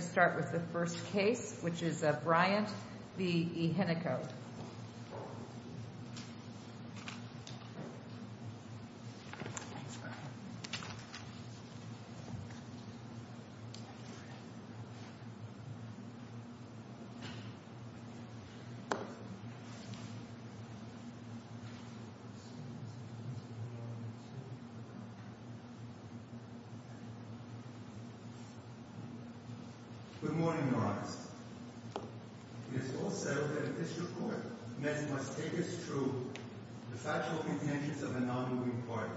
And I'm going to start with the first case, which is Bryant v. Ehenico. Good morning, Lawrence. It is also that if this report meant it must take as true the factual contentions of a non-moving party,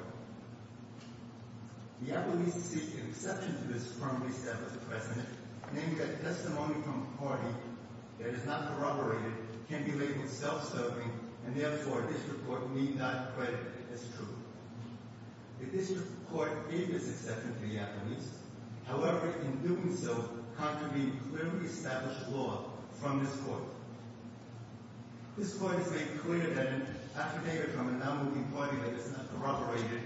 the Atlantean seeks an exception to this firmly set by the President, naming that testimony from a party that is not corroborated can be labeled self-serving, and therefore this report need not be credited as true. If this report gave this exception to the Atlanteans, however, in doing so, contravened clearly established law from this court. This court has made clear that an affidavit from a non-moving party that is not corroborated,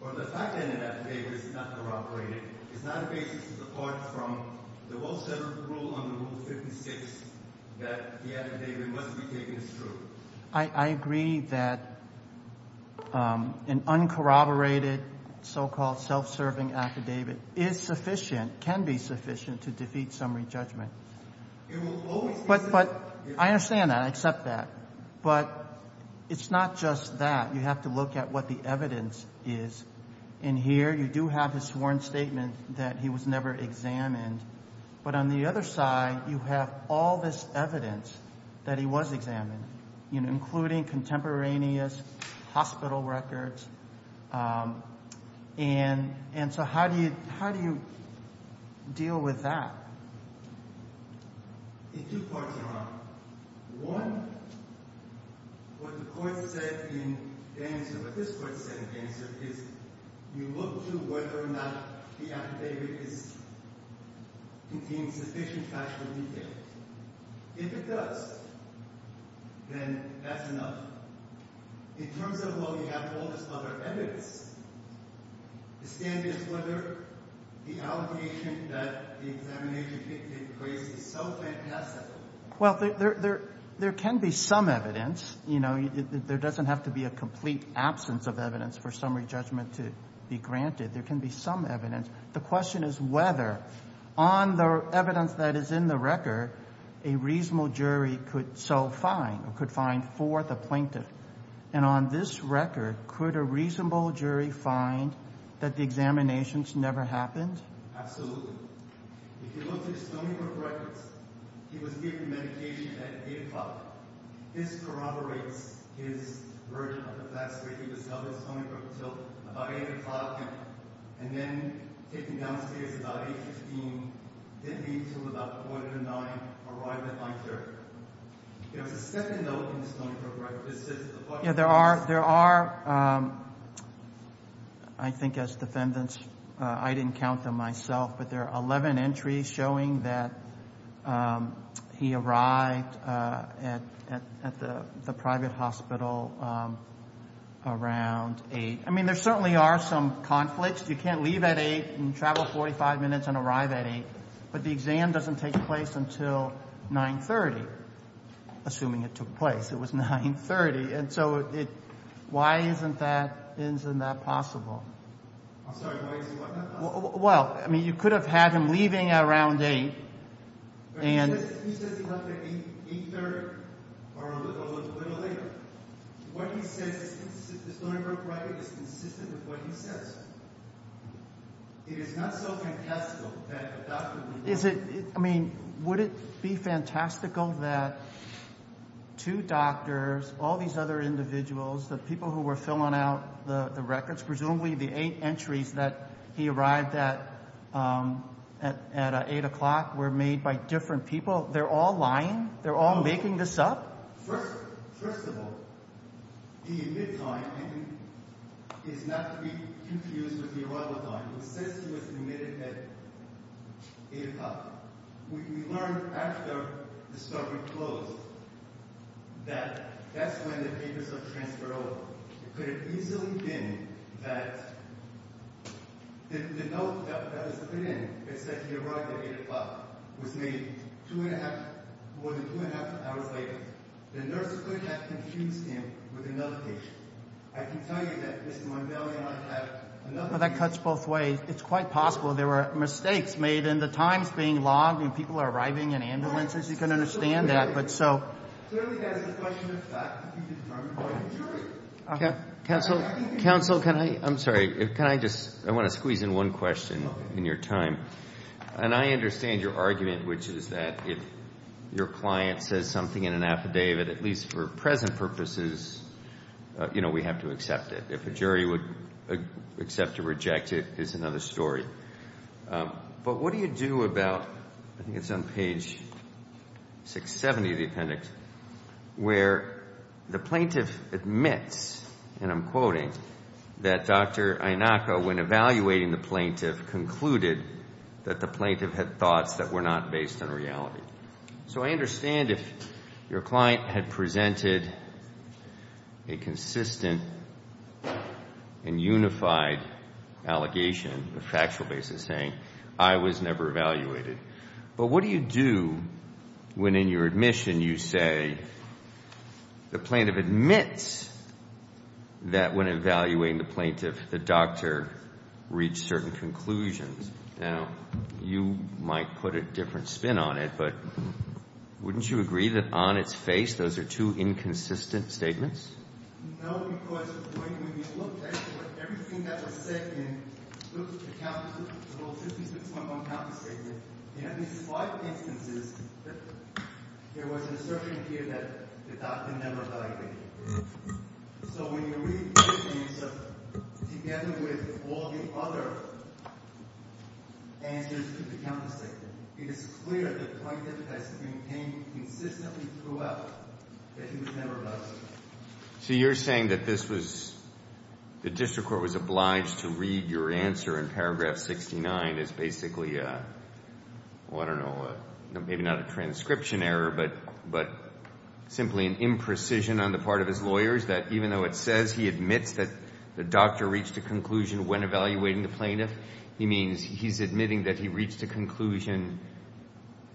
or the fact that an affidavit is not corroborated, is not a basis apart from the well-shuttered rule under Rule 56, that the affidavit must be taken as true. I agree that an uncorroborated so-called self-serving affidavit is sufficient, can be sufficient to defeat summary judgment. But I understand that. I accept that. But it's not just that. You have to look at what the evidence is. In here you do have his sworn statement that he was never examined, but on the other side you have all this evidence that he was examined, including contemporaneous hospital records. And so how do you deal with that? In two parts, Your Honor. One, what the court said in Gainesville, what this court said in Gainesville, is you look to whether or not the affidavit contains sufficient factual details. If it does, then that's enough. In terms of, well, you have all this other evidence, the standard is whether the allegation that the examination dictates is so fantastic. Well, there can be some evidence. There doesn't have to be a complete absence of evidence for summary judgment to be granted. There can be some evidence. The question is whether, on the evidence that is in the record, a reasonable jury could so find or could find for the plaintiff. And on this record, could a reasonable jury find that the examinations never happened? Absolutely. If you look at Stoneybrook records, he was given medication at 8 o'clock. This corroborates his version of the facts, where he was held at Stoneybrook until about 8 o'clock, and then taken downstairs about 8.15, didn't leave until about 4.09, arrived at my chair. There was a second note in Stoneybrook, right? This is the question. Yeah, there are, I think as defendants, I didn't count them myself, but there are 11 entries showing that he arrived at the private hospital around 8. I mean, there certainly are some conflicts. You can't leave at 8 and travel 45 minutes and arrive at 8, but the exam doesn't take place until 9.30, assuming it took place. It was 9.30. And so why isn't that possible? I'm sorry. Well, I mean, you could have had him leaving at around 8. He says he left at 8.30 or a little later. What he says in Stoneybrook record is consistent with what he says. It is not so fantastical that a doctor would leave. I mean, would it be fantastical that two doctors, all these other individuals, the people who were filling out the records, presumably the eight entries that he arrived at at 8 o'clock were made by different people? They're all lying? They're all making this up? First of all, the admitted time is not to be confused with the arrival time. It says he was admitted at 8 o'clock. We learned after the study closed that that's when the papers are transferred over. It could have easily been that the note that was put in that said he arrived at 8 o'clock was made two and a half, more than two and a half hours later. The nurse could have confused him with another patient. I can tell you that Mr. Mondale and I had another patient. Well, that cuts both ways. It's quite possible there were mistakes made in the times being logged and people arriving in ambulances. You can understand that, but so. Counsel, counsel, can I? I'm sorry. Can I just, I want to squeeze in one question in your time. And I understand your argument, which is that if your client says something in an affidavit, at least for present purposes, you know, we have to accept it. If a jury would accept or reject it, it's another story. But what do you do about, I think it's on page 670 of the appendix, where the plaintiff admits, and I'm quoting, that Dr. Inaka, when evaluating the plaintiff, concluded that the plaintiff had thoughts that were not based on reality. So I understand if your client had presented a consistent and unified allegation, a factual basis saying, I was never evaluated. But what do you do when in your admission you say the plaintiff admits that when evaluating the plaintiff, the doctor reached certain conclusions. Now, you might put a different spin on it, but wouldn't you agree that on its face, those are two inconsistent statements? No, because when you look at everything that was said in the old 56.1 counter statement, you have these five instances that there was an assertion here that the doctor never evaluated. So when you read this piece together with all the other answers to the counter statement, it is clear the plaintiff has maintained consistently throughout that he was never evaluated. So you're saying that this was, the district court was obliged to read your answer in paragraph 69 as basically, well, I don't know, maybe not a transcription error, but simply an imprecision on the part of his lawyers that even though it says he admits that the doctor reached a conclusion when evaluating the plaintiff, he means he's admitting that he reached a conclusion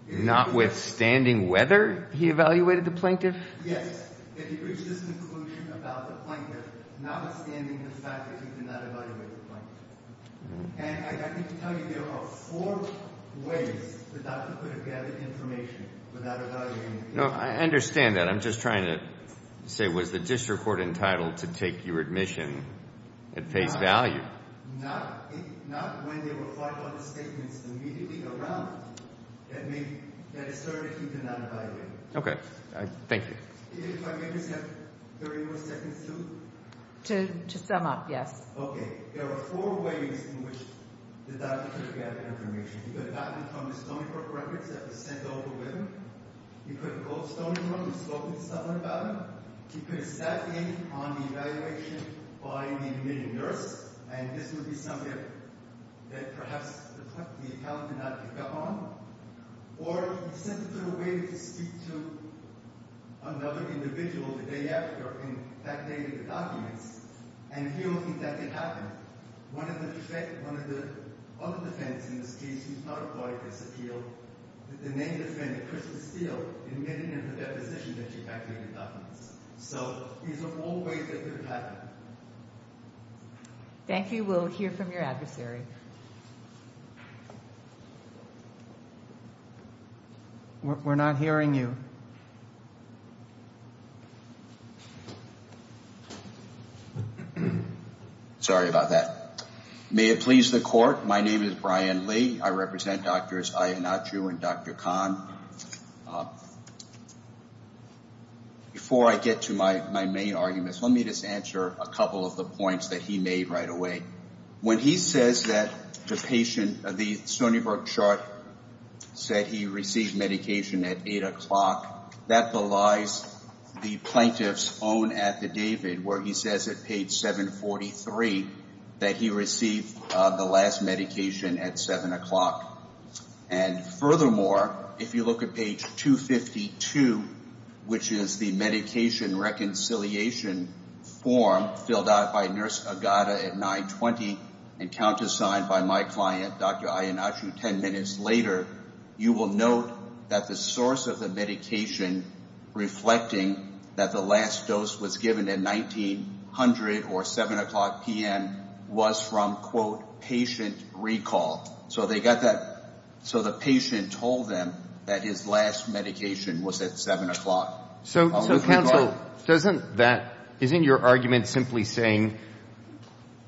notwithstanding whether he evaluated the plaintiff? Yes, that he reached this conclusion about the plaintiff notwithstanding the fact that he did not evaluate the plaintiff. And I need to tell you there are four ways the doctor could have gathered information without evaluating the plaintiff. No, I understand that. I'm just trying to say, was the district court entitled to take your admission at face value? Not when there were five other statements immediately around that asserted he did not evaluate. Okay. Thank you. If I may just have 30 more seconds to? To sum up, yes. Okay. There are four ways in which the doctor could have gathered information. He could have gotten it from the Stony Brook records that were sent over with him. He could have called Stony Brook and spoken to someone about it. He could have sat in on the evaluation by the admitting nurse, and this would be something that perhaps the accountant did not pick up on. Or he sent it to the waiter to speak to another individual the day after, and that dated the documents, and he will think that it happened. One of the other defendants in this case, who's not a lawyer, disappeared. The name of the defendant, Crystal Steele, admitted in her deposition that she evacuated documents. So these are all ways that could have happened. Thank you. We'll hear from your adversary. We're not hearing you. Sorry about that. May it please the court, my name is Brian Lee. I represent Drs. Iannaccio and Dr. Kahn. Before I get to my main arguments, let me just answer a couple of the points that he made right away. When he says that the patient, the Stony Brook chart said he received medication at 8 o'clock, that belies the plaintiff's own affidavit where he says at page 743 that he received the last medication at 7 o'clock. And furthermore, if you look at page 252, which is the medication reconciliation form filled out by Nurse Agata at 920 and countersigned by my client, Dr. Iannaccio, 10 minutes later, you will note that the source of the medication reflecting that the last dose was given at 1900 or 7 o'clock p.m. was from, quote, patient recall. So they got that, so the patient told them that his last medication was at 7 o'clock. So counsel, doesn't that, isn't your argument simply saying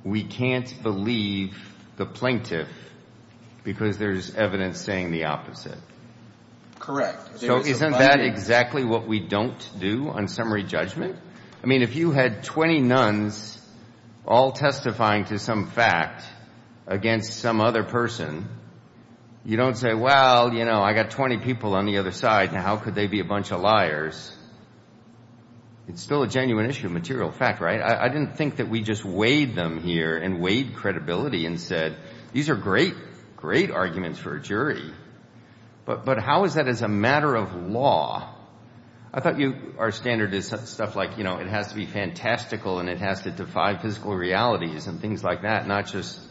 we can't believe the plaintiff because there's evidence saying the opposite? Correct. So isn't that exactly what we don't do on summary judgment? I mean, if you had 20 nuns all testifying to some fact against some other person, you don't say, well, you know, I got 20 people on the other side, now how could they be a bunch of liars? It's still a genuine issue of material fact, right? I didn't think that we just weighed them here and weighed credibility and said, these are great, great arguments for a jury, but how is that as a matter of law? I thought our standard is stuff like, you know, it has to be fantastical and it has to defy physical realities and things like that, not just,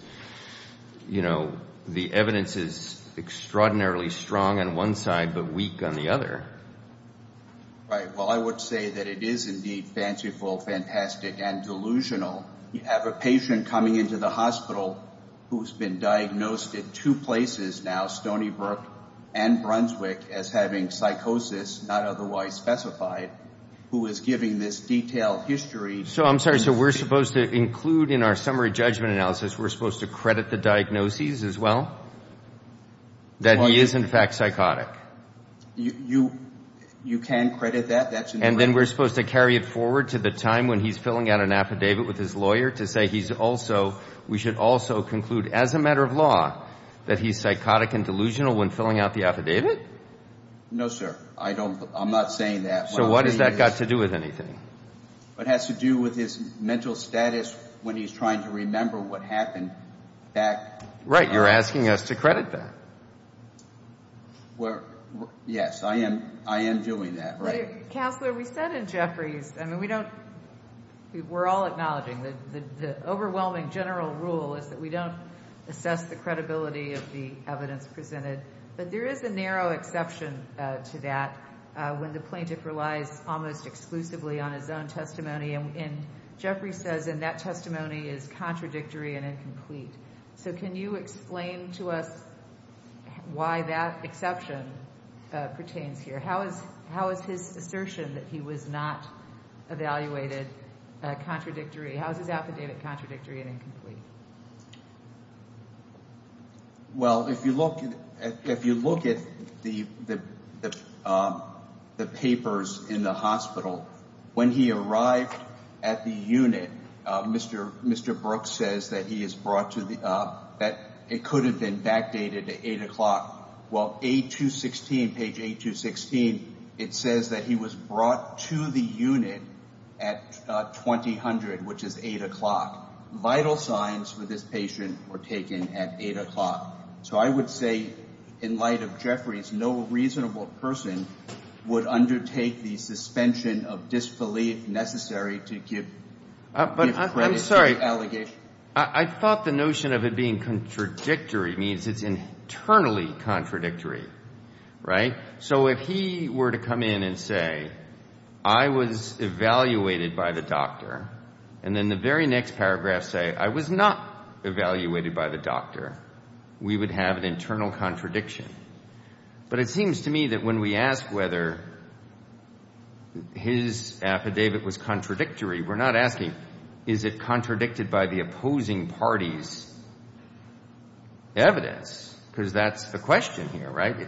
you know, the evidence is extraordinarily strong on one side but weak on the other. Right. Well, I would say that it is indeed fanciful, fantastic, and delusional. You have a patient coming into the hospital who's been diagnosed in two places now, Stony Brook and Brunswick, as having psychosis not otherwise specified, who is giving this detailed history. So I'm sorry, so we're supposed to include in our summary judgment analysis, we're supposed to credit the diagnoses as well, that he is in fact psychotic? You can credit that. And then we're supposed to carry it forward to the time when he's filling out an affidavit with his lawyer to say he's also, we should also conclude as a matter of law, that he's psychotic and delusional when filling out the affidavit? No, sir. I'm not saying that. So what has that got to do with anything? It has to do with his mental status when he's trying to remember what happened back. Right. You're asking us to credit that. Yes, I am doing that. Counselor, we said in Jeffrey's, I mean, we don't, we're all acknowledging, the overwhelming general rule is that we don't assess the credibility of the evidence presented. But there is a narrow exception to that when the plaintiff relies almost exclusively on his own testimony. And Jeffrey says in that testimony is contradictory and incomplete. So can you explain to us why that exception pertains here? How is his assertion that he was not evaluated contradictory? How is his affidavit contradictory and incomplete? Well, if you look at the papers in the hospital, when he arrived at the unit, Mr. Brooks says that he is brought to the, that it could have been backdated to 8 o'clock. Well, page 8216, it says that he was brought to the unit at 2000, which is 8 o'clock. Vital signs for this patient were taken at 8 o'clock. So I would say in light of Jeffrey's, no reasonable person would undertake the suspension of disbelief necessary to give credit to the allegation. I thought the notion of it being contradictory means it's internally contradictory, right? So if he were to come in and say, I was evaluated by the doctor, and then the very next paragraph say, I was not evaluated by the doctor, we would have an internal contradiction. But it seems to me that when we ask whether his affidavit was contradictory, we're not asking, is it contradicted by the opposing party's evidence? Because that's the question here, right?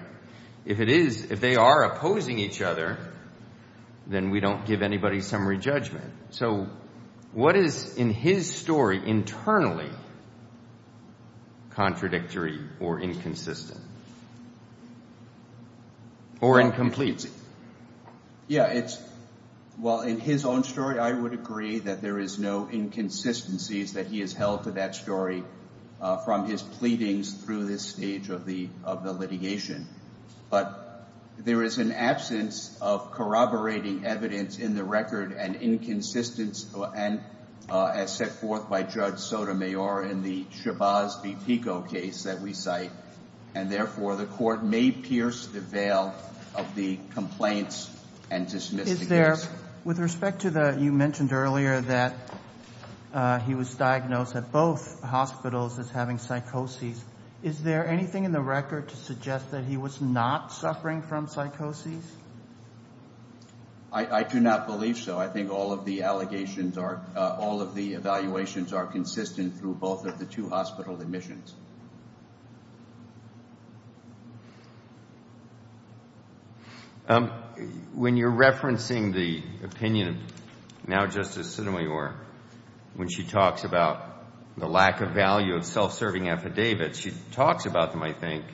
If it is, if they are opposing each other, then we don't give anybody summary judgment. So what is in his story internally contradictory or inconsistent or incomplete? Yeah, it's, well, in his own story, I would agree that there is no inconsistencies that he has held to that story from his pleadings through this stage of the litigation. But there is an absence of corroborating evidence in the record and inconsistency, and as set forth by Judge Sotomayor in the Shabazz v. Pico case that we cite, and therefore the court may pierce the veil of the complaints and dismiss the case. Is there, with respect to the, you mentioned earlier that he was diagnosed at both hospitals as having psychosis, is there anything in the record to suggest that he was not suffering from psychosis? I do not believe so. I think all of the allegations are, all of the evaluations are consistent through both of the two hospital admissions. When you're referencing the opinion of now Justice Sotomayor, when she talks about the lack of value of self-serving affidavits, she talks about them, I think,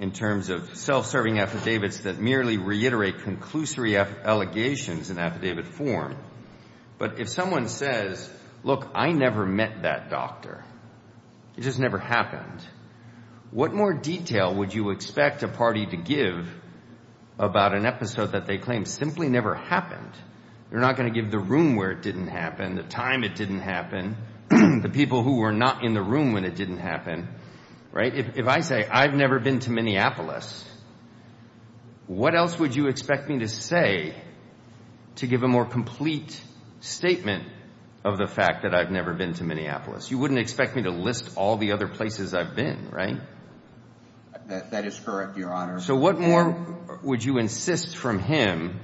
in terms of self-serving affidavits that merely reiterate conclusory allegations in affidavit form. But if someone says, look, I never met that doctor, it just never happened, what more detail would you expect a party to give about an episode that they claim simply never happened? You're not going to give the room where it didn't happen, the time it didn't happen, the people who were not in the room when it didn't happen, right? If I say, I've never been to Minneapolis, what else would you expect me to say to give a more complete statement of the fact that I've never been to Minneapolis? You wouldn't expect me to list all the other places I've been, right? That is correct, Your Honor. So what more would you insist from him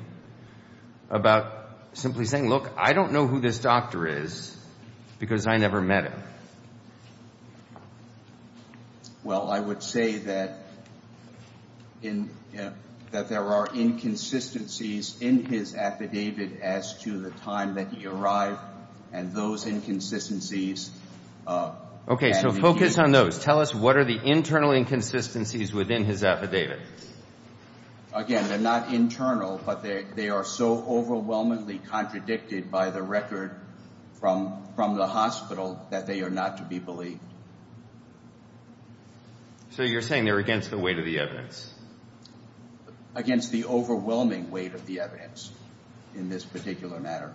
about simply saying, look, I don't know who this doctor is because I never met him? Well, I would say that there are inconsistencies in his affidavit as to the time that he arrived, and those inconsistencies. Okay, so focus on those. Tell us, what are the internal inconsistencies within his affidavit? Again, they're not internal, but they are so overwhelmingly contradicted by the record from the hospital that they are not to be believed. So you're saying they're against the weight of the evidence? Against the overwhelming weight of the evidence in this particular matter.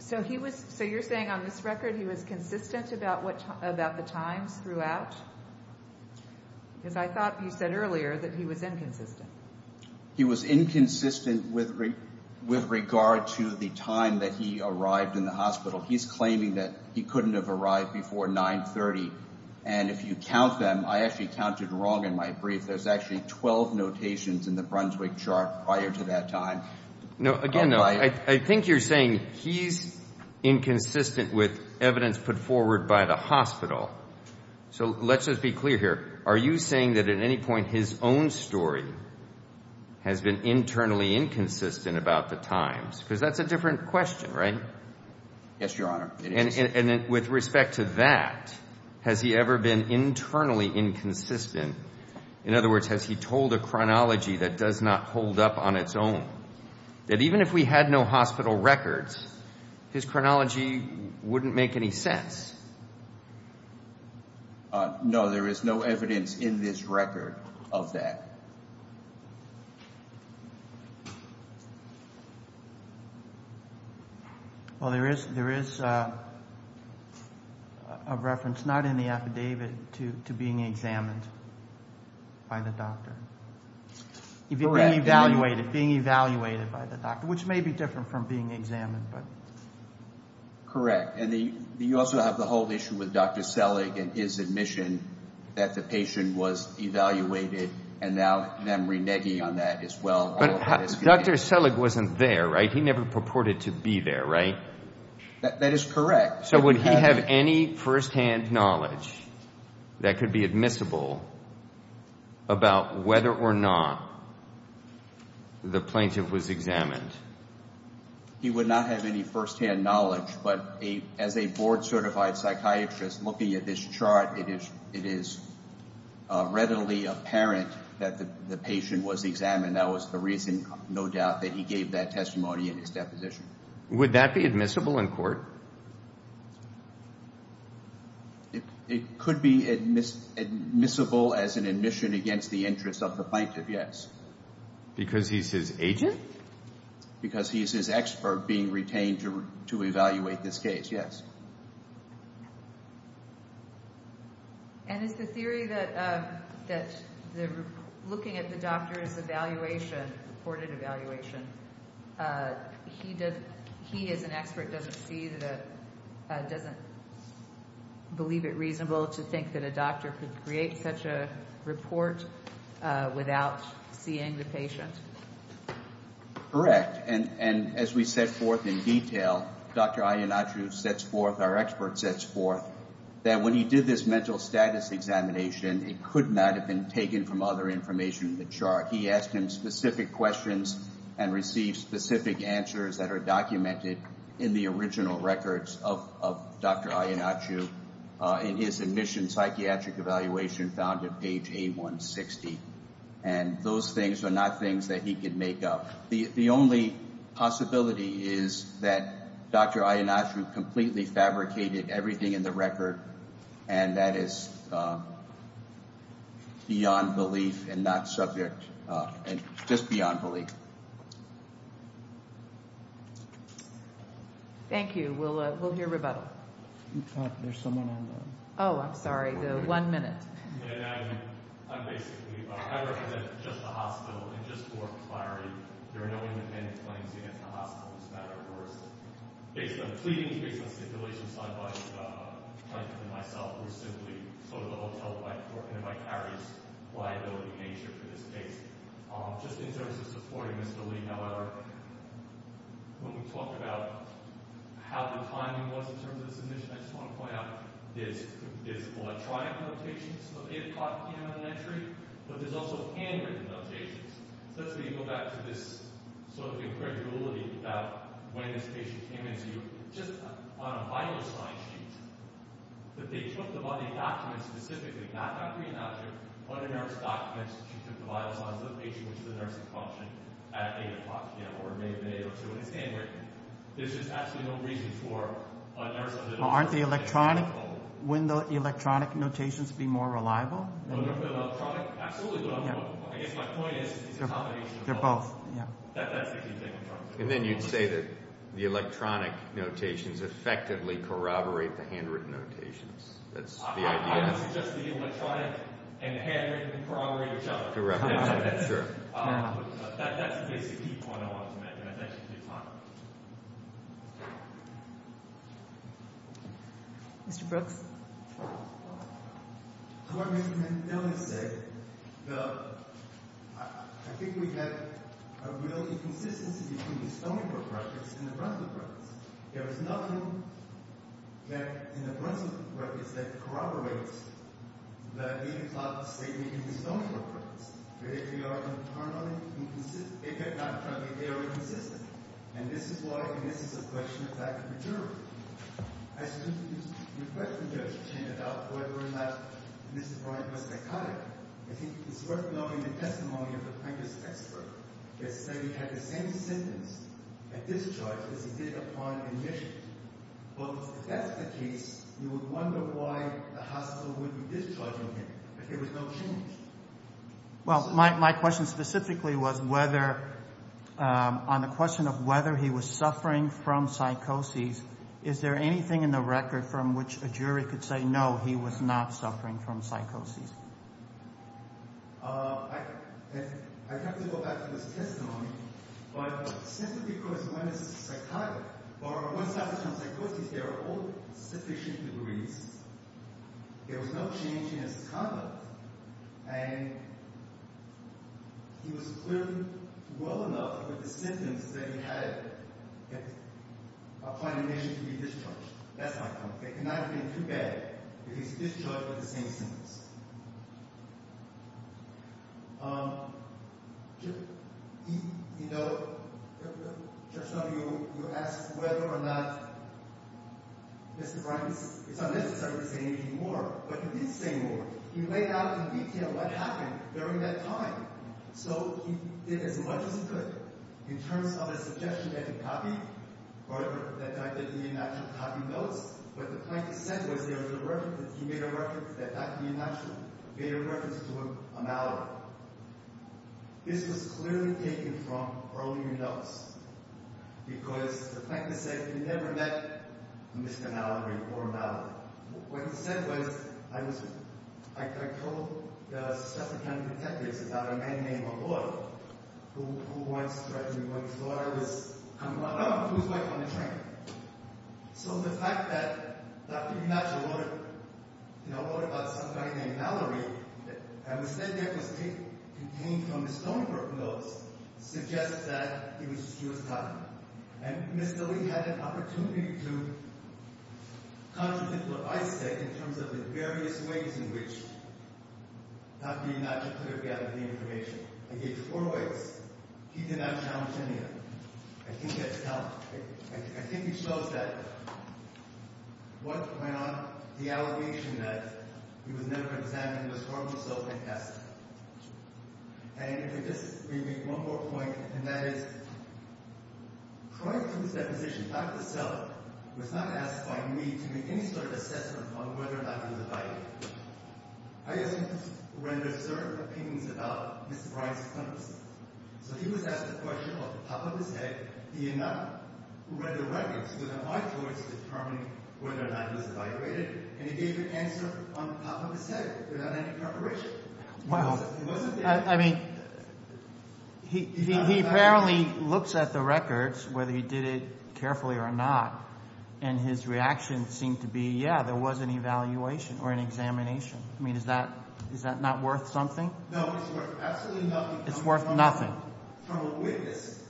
So you're saying on this record he was consistent about the times throughout? Because I thought you said earlier that he was inconsistent. He was inconsistent with regard to the time that he arrived in the hospital. He's claiming that he couldn't have arrived before 930, and if you count them, I actually counted wrong in my brief. There's actually 12 notations in the Brunswick chart prior to that time. Again, I think you're saying he's inconsistent with evidence put forward by the hospital. So let's just be clear here. Are you saying that at any point his own story has been internally inconsistent about the times? Because that's a different question, right? Yes, Your Honor. And with respect to that, has he ever been internally inconsistent? In other words, has he told a chronology that does not hold up on its own? That even if we had no hospital records, his chronology wouldn't make any sense. No, there is no evidence in this record of that. Well, there is a reference, not in the affidavit, to being examined by the doctor. Correct. Being evaluated by the doctor, which may be different from being examined. Correct. And you also have the whole issue with Dr. Selig and his admission that the patient was evaluated and now them reneging on that as well. But Dr. Selig wasn't there, right? He never purported to be there, right? That is correct. So would he have any firsthand knowledge that could be admissible about whether or not the plaintiff was examined? He would not have any firsthand knowledge. But as a board-certified psychiatrist, looking at this chart, it is readily apparent that the patient was examined. That was the reason, no doubt, that he gave that testimony in his deposition. Would that be admissible in court? It could be admissible as an admission against the interests of the plaintiff, yes. Because he's his agent? Because he's his expert being retained to evaluate this case, yes. And is the theory that looking at the doctor's evaluation, reported evaluation, he as an expert doesn't believe it reasonable to think that a doctor could create such a report without seeing the patient? Correct. And as we set forth in detail, Dr. Iannaciu sets forth, our expert sets forth, that when he did this mental status examination, it could not have been taken from other information in the chart. He asked him specific questions and received specific answers that are documented in the original records of Dr. Iannaciu in his admission psychiatric evaluation found at page 8160. And those things are not things that he could make up. The only possibility is that Dr. Iannaciu completely fabricated everything in the record, and that is beyond belief and not subject, and just beyond belief. Thank you. We'll hear rebuttal. There's someone on the— Oh, I'm sorry. One minute. I'm basically—I represent just the hospital, and just for clarity, there are no independent claims against the hospital in this matter. It was based on pleadings, based on stipulations signed by the plaintiff and myself. We're simply sort of a hotel-like court, in a vicarious liability nature for this case. Just in terms of supporting Mr. Lee, however, when we talked about how the timing was in terms of the submission, I just want to point out there's electronic notations that they have caught in an entry, but there's also handwritten notations. So that's where you go back to this sort of incredulity about when this patient came in to you, just on a vital sign sheet, that they took the body documents specifically, not a green object, but a nurse document. She took the vital signs of the patient, which is a nursing function, at 8 o'clock, or maybe an 8 or 2, and it's handwritten. There's just absolutely no reason for a nurse— Well, aren't the electronic—wouldn't the electronic notations be more reliable? No, no. The electronic—absolutely. I guess my point is— They're both, yeah. That's the key thing in terms of— And then you'd say that the electronic notations effectively corroborate the handwritten notations. That's the idea. I would suggest the electronic and the handwritten corroborate each other. Correct. That's true. That's the basic key point I wanted to make, and I thank you for your time. Mr. Brooks? To what Mr. Mendele said, I think we have a real inconsistency between the Stony Brook practice and the Brunswick practice. There is nothing that—in the Brunswick practice that corroborates the 8 o'clock statement in the Stony Brook practice. They are internally inconsistent—they are inconsistent. And this is why—and this is a question of fact and maturity. As to the question that was chanted out, whether or not Mr. Bryant was psychotic, I think it's worth noting the testimony of the practice expert. They say he had the same symptoms at discharge as he did upon admission. But if that's the case, you would wonder why the hospital would be discharging him if there was no change. Well, my question specifically was whether—on the question of whether he was suffering from psychosis, is there anything in the record from which a jury could say, no, he was not suffering from psychosis? I'd have to go back to his testimony. But simply because when it's psychotic, or when it's not psychosis, there are old sufficient degrees. There was no change in his conduct. And he was clearly well enough with the symptoms that he had upon admission to be discharged. That's my point. It cannot have been too bad if he was discharged with the same symptoms. You know, Judge Snow, you asked whether or not Mr. Bryant—it's unnecessary to say anything more. But he did say more. He laid out in detail what happened during that time. So he did as much as he could. In terms of the suggestion that he copy—that he actually copy notes, what the plaintiff said was that he made a reference to a malady. This was clearly taken from earlier notes. Because the plaintiff said he never met Mr. Mallory or a malady. What he said was, I told the suspect and the detectives about a man named O'Rourke who once threatened me with his daughter. I don't know who his wife on the train. So the fact that Dr. DiMaggio wrote about somebody named Mallory, and it was said that it was contained in the Stonebrook notes, suggests that he was copying. And Mr. Lee had an opportunity to contradict what I said in terms of the various ways in which Dr. DiMaggio could have gathered the information. I gave him four ways. He did not challenge any of them. I think that's—I think he shows that what went on—the allegation that he was never examined was for himself and tested. And if we just—we make one more point, and that is, prior to his deposition, Dr. Selleck was not asked by me to make any sort of assessment on whether or not he was abided. I asked him to render certain opinions about Mr. Bryant's accomplices. So he was asked a question off the top of his head. He did not render records without my choice determining whether or not he was evaluated. And he gave an answer off the top of his head without any preparation. Wow. I mean, he apparently looks at the records, whether he did it carefully or not, and his reaction seemed to be, yeah, there was an evaluation or an examination. I mean, is that—is that not worth something? No, it's worth absolutely nothing. It's worth nothing. From a witness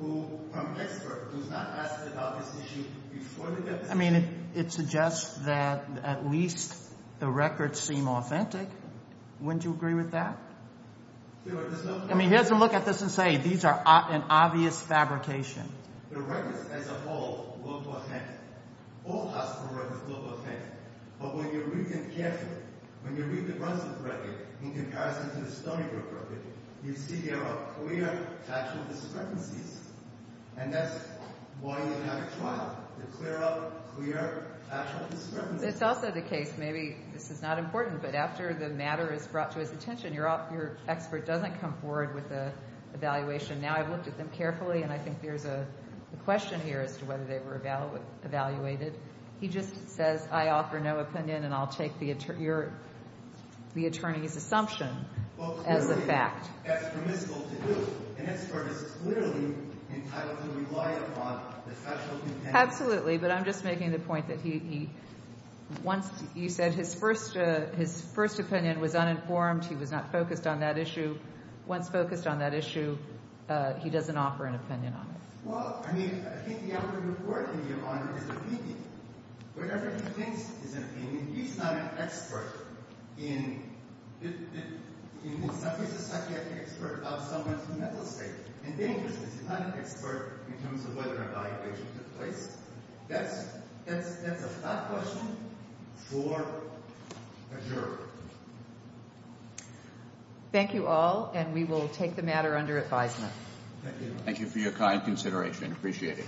who—from an expert who's not asked about this issue before the deposition. I mean, it suggests that at least the records seem authentic. Wouldn't you agree with that? I mean, here's a look at this and say these are an obvious fabrication. The records as a whole look authentic. All hospital records look authentic. But when you read them carefully, when you read the Brunson's record in comparison to the Stoneybrook record, you see there are clear factual discrepancies. And that's why you have a trial, to clear up clear factual discrepancies. It's also the case—maybe this is not important, but after the matter is brought to his attention, your expert doesn't come forward with an evaluation. Now, I've looked at them carefully, and I think there's a question here as to whether they were evaluated. He just says, I offer no opinion, and I'll take the attorney's assumption as a fact. That's permissible to do. An expert is clearly entitled to rely upon the factual— Absolutely, but I'm just making the point that he—once you said his first opinion was uninformed, he was not focused on that issue. Once focused on that issue, he doesn't offer an opinion on it. Well, I mean, I think the outcome of the court in your honor is a beating. Whatever he thinks is an opinion, he's not an expert in—in some cases, a psychiatric expert of someone's mental state. And dangerousness, he's not an expert in terms of whether an evaluation took place. That's a thought question for a jury. Thank you all, and we will take the matter under advisement. Thank you. Thank you for your kind consideration. Appreciate it.